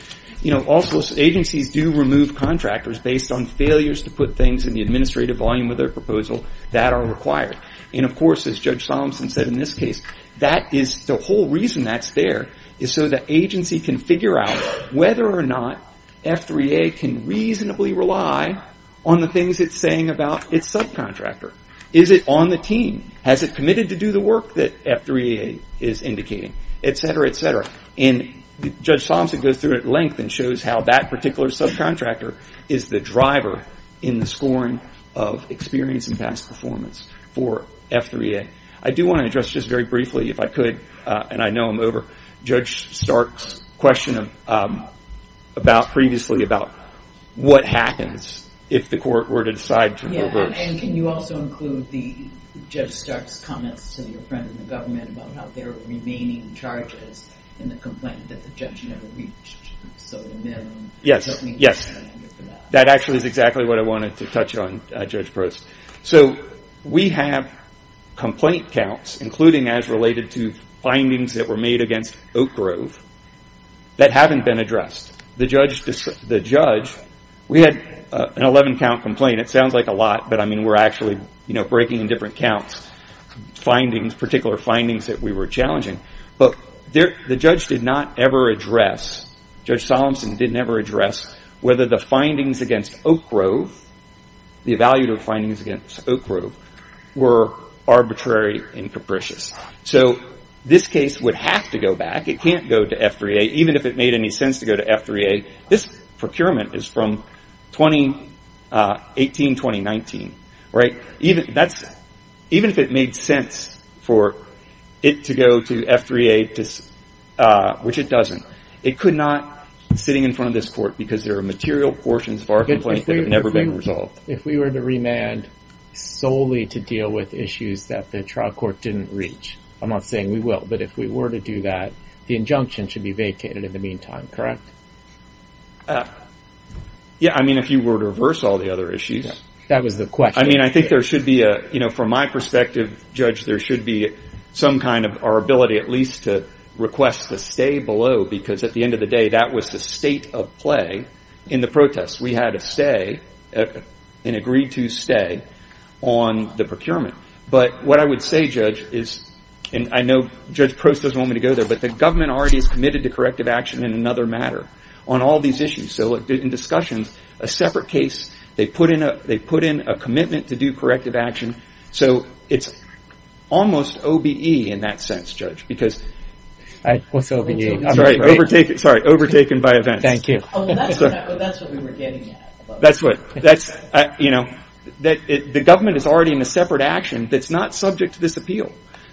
you know, also agencies do remove contractors based on failures to put things in the administrative volume of their proposal that are required. And, of course, as Judge Solomson said in this case, that is the whole reason that's there, is so that agency can figure out whether or not F3A can reasonably rely on the things it's saying about its subcontractor. Is it on the team? Has it committed to do the work that F3A is indicating? Et cetera, et cetera. And Judge Solomson goes through it at length and shows how that particular subcontractor is the driver in the scoring of experience and past performance for F3A. I do want to address just very briefly, if I could, and I know I'm over Judge Stark's question previously about what happens if the court were to decide to reverse. Yeah, and can you also include Judge Stark's comments to your friend in the government about how there are remaining charges in the complaint that the judge never reached? Yes, yes. That actually is exactly what I wanted to touch on, Judge Prost. So we have complaint counts, including as related to findings that were made against Oak Grove, that haven't been addressed. The judge, we had an 11-count complaint. It sounds like a lot, but, I mean, we're actually, you know, breaking in different counts. Findings, particular findings that we were challenging, but the judge did not ever address, Judge Solomson didn't ever address whether the findings against Oak Grove, the evaluative findings against Oak Grove, were arbitrary and capricious. So this case would have to go back. It can't go to F3A, even if it made any sense to go to F3A. This procurement is from 2018, 2019, right? Even if it made sense for it to go to F3A, which it doesn't, it could not, sitting in front of this court, because there are material portions of our complaint that have never been resolved. If we were to remand solely to deal with issues that the trial court didn't reach, I'm not saying we will, but if we were to do that, the injunction should be vacated in the meantime, correct? Yeah, I mean, if you were to reverse all the other issues. That was the question. I mean, I think there should be a, you know, from my perspective, Judge, there should be some kind of our ability at least to request the stay below, because at the end of the day, that was the state of play in the protest. We had a stay, an agreed to stay on the procurement. But what I would say, Judge, is, and I know Judge Prost doesn't want me to go there, but the government already is committed to corrective action in another matter on all these issues. So, in discussions, a separate case, they put in a commitment to do corrective action. So, it's almost OBE in that sense, Judge, because... What's OBE? Sorry, overtaken by events. Thank you. That's what we were getting at. That's what, you know, the government is already in a separate action that's not subject to this appeal.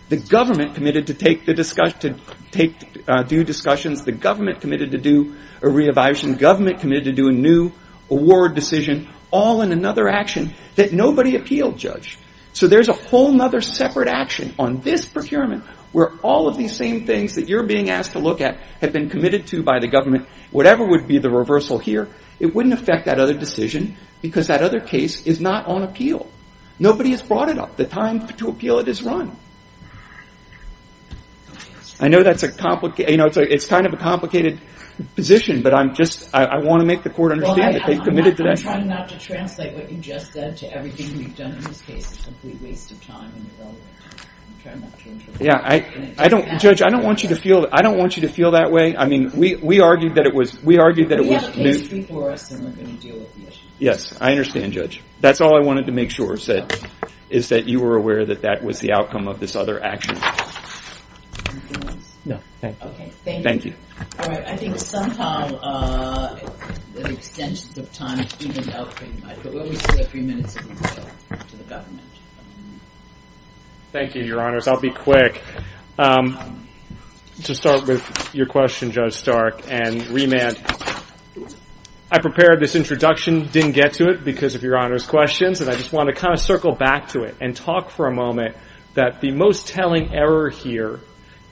The government committed to do a re-evaluation. The government committed to do a new award decision, all in another action that nobody appealed, Judge. So, there's a whole other separate action on this procurement where all of these same things that you're being asked to look at have been committed to by the government. Whatever would be the reversal here, it wouldn't affect that other decision, because that other case is not on appeal. Nobody has brought it up. The time to appeal it is run. I know that's a complicated... You know, it's kind of a complicated position, but I'm just... I want to make the court understand that they've committed to that. Well, I'm trying not to translate what you just said to everything we've done in this case. It's a complete waste of time and irrelevant. I'm trying not to interfere. Yeah, I don't... Judge, I don't want you to feel... I don't want you to feel that way. I mean, we argued that it was... We have a case before us, and we're going to deal with the issue. Yes, I understand, Judge. That's all I wanted to make sure is that you were aware that that was the outcome of this other action. Anything else? No, thank you. Okay, thank you. Thank you. All right, I think somehow the extent of time is evened out pretty much, but we'll give a few minutes to the government. Thank you, Your Honors. I'll be quick. To start with your question, Judge Stark, and remand, I prepared this introduction, didn't get to it because of Your Honors' questions, and I just want to kind of circle back to it and talk for a moment that the most telling error here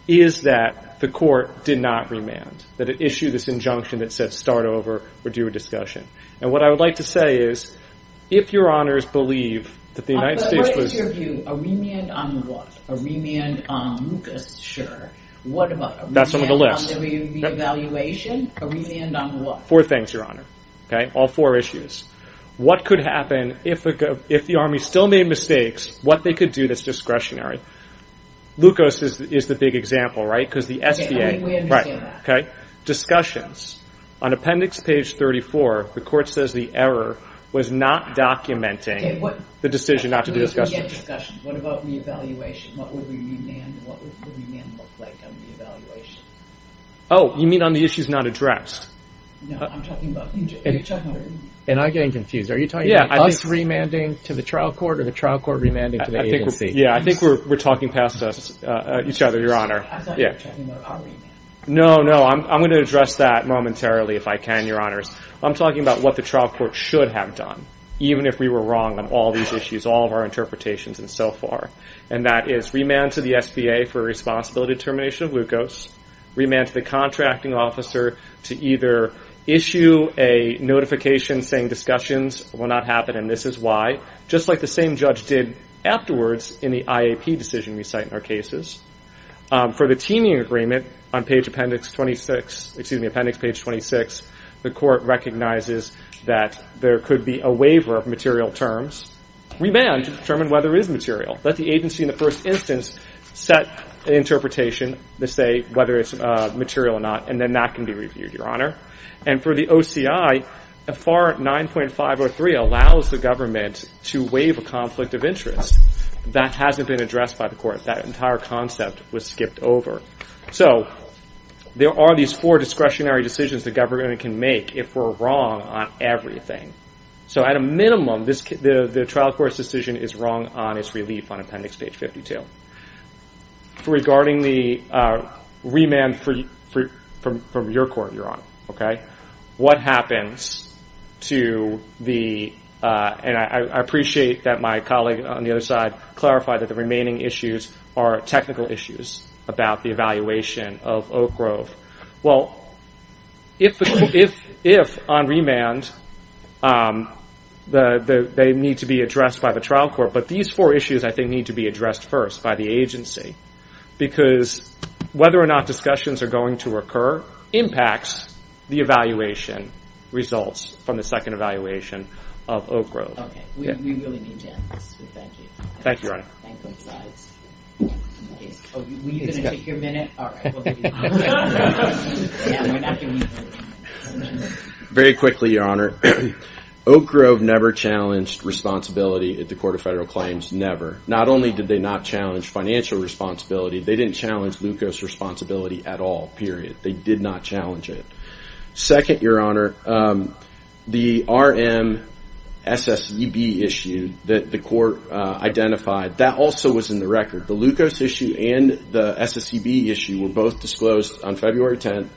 is that the court did not remand, that it issued this injunction that said start over or do a discussion. And what I would like to say is if Your Honors believe that the United States was... But what is your view? A remand on what? A remand on Lucas, sure. What about a remand on the reevaluation? A remand on what? Four things, Your Honor, all four issues. What could happen if the Army still made mistakes, what they could do that's discretionary? Lucas is the big example, right, because the SBA... Okay, I think we understand that. Discussions. On appendix page 34, the court says the error was not documenting the decision not to do discussions. What about reevaluation? What would remand look like on reevaluation? Oh, you mean on the issues not addressed? No, I'm talking about each other. And I'm getting confused. Are you talking about us remanding to the trial court or the trial court remanding to the agency? Yeah, I think we're talking past each other, Your Honor. I thought you were talking about our remand. No, no, I'm going to address that momentarily if I can, Your Honors. I'm talking about what the trial court should have done, even if we were wrong on all these issues, all of our interpretations and so forth, and that is remand to the SBA for responsibility determination of Lucas, remand to the contracting officer to either issue a notification saying discussions will not happen and this is why, just like the same judge did afterwards in the IAP decision we cite in our cases. For the teaming agreement on appendix 26, excuse me, appendix page 26, the court recognizes that there could be a waiver of material terms, remand to determine whether it is material. Let the agency in the first instance set an interpretation to say whether it's material or not and then that can be reviewed, Your Honor. And for the OCI, FAR 9.503 allows the government to waive a conflict of interest. That hasn't been addressed by the court. That entire concept was skipped over. So there are these four discretionary decisions the government can make if we're wrong on everything. So at a minimum, the trial court's decision is wrong on its relief on appendix page 52. Regarding the remand from your court, Your Honor, what happens to the, and I appreciate that my colleague on the other side clarified that the remaining issues are technical issues about the evaluation of Oak Grove. Well, if on remand they need to be addressed by the trial court, but these four issues I think need to be addressed first by the agency because whether or not discussions are going to occur impacts the evaluation results from the second evaluation of Oak Grove. Okay. We really need to have this. Thank you. Thank you, Your Honor. Thank you. Were you going to take your minute? All right. Very quickly, Your Honor. Oak Grove never challenged responsibility at the Court of Federal Claims, never. Not only did they not challenge financial responsibility, they didn't challenge glucose responsibility at all, period. They did not challenge it. Second, Your Honor, the RM SSEB issue that the court identified, that also was in the record. The glucose issue and the SSEB issue were both disclosed on February 10th,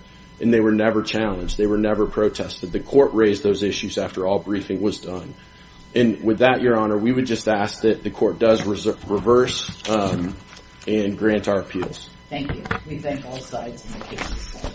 and they were never challenged. They were never protested. The court raised those issues after all briefing was done. And with that, Your Honor, we would just ask that the court does reverse and grant our appeals. Thank you. We thank all sides.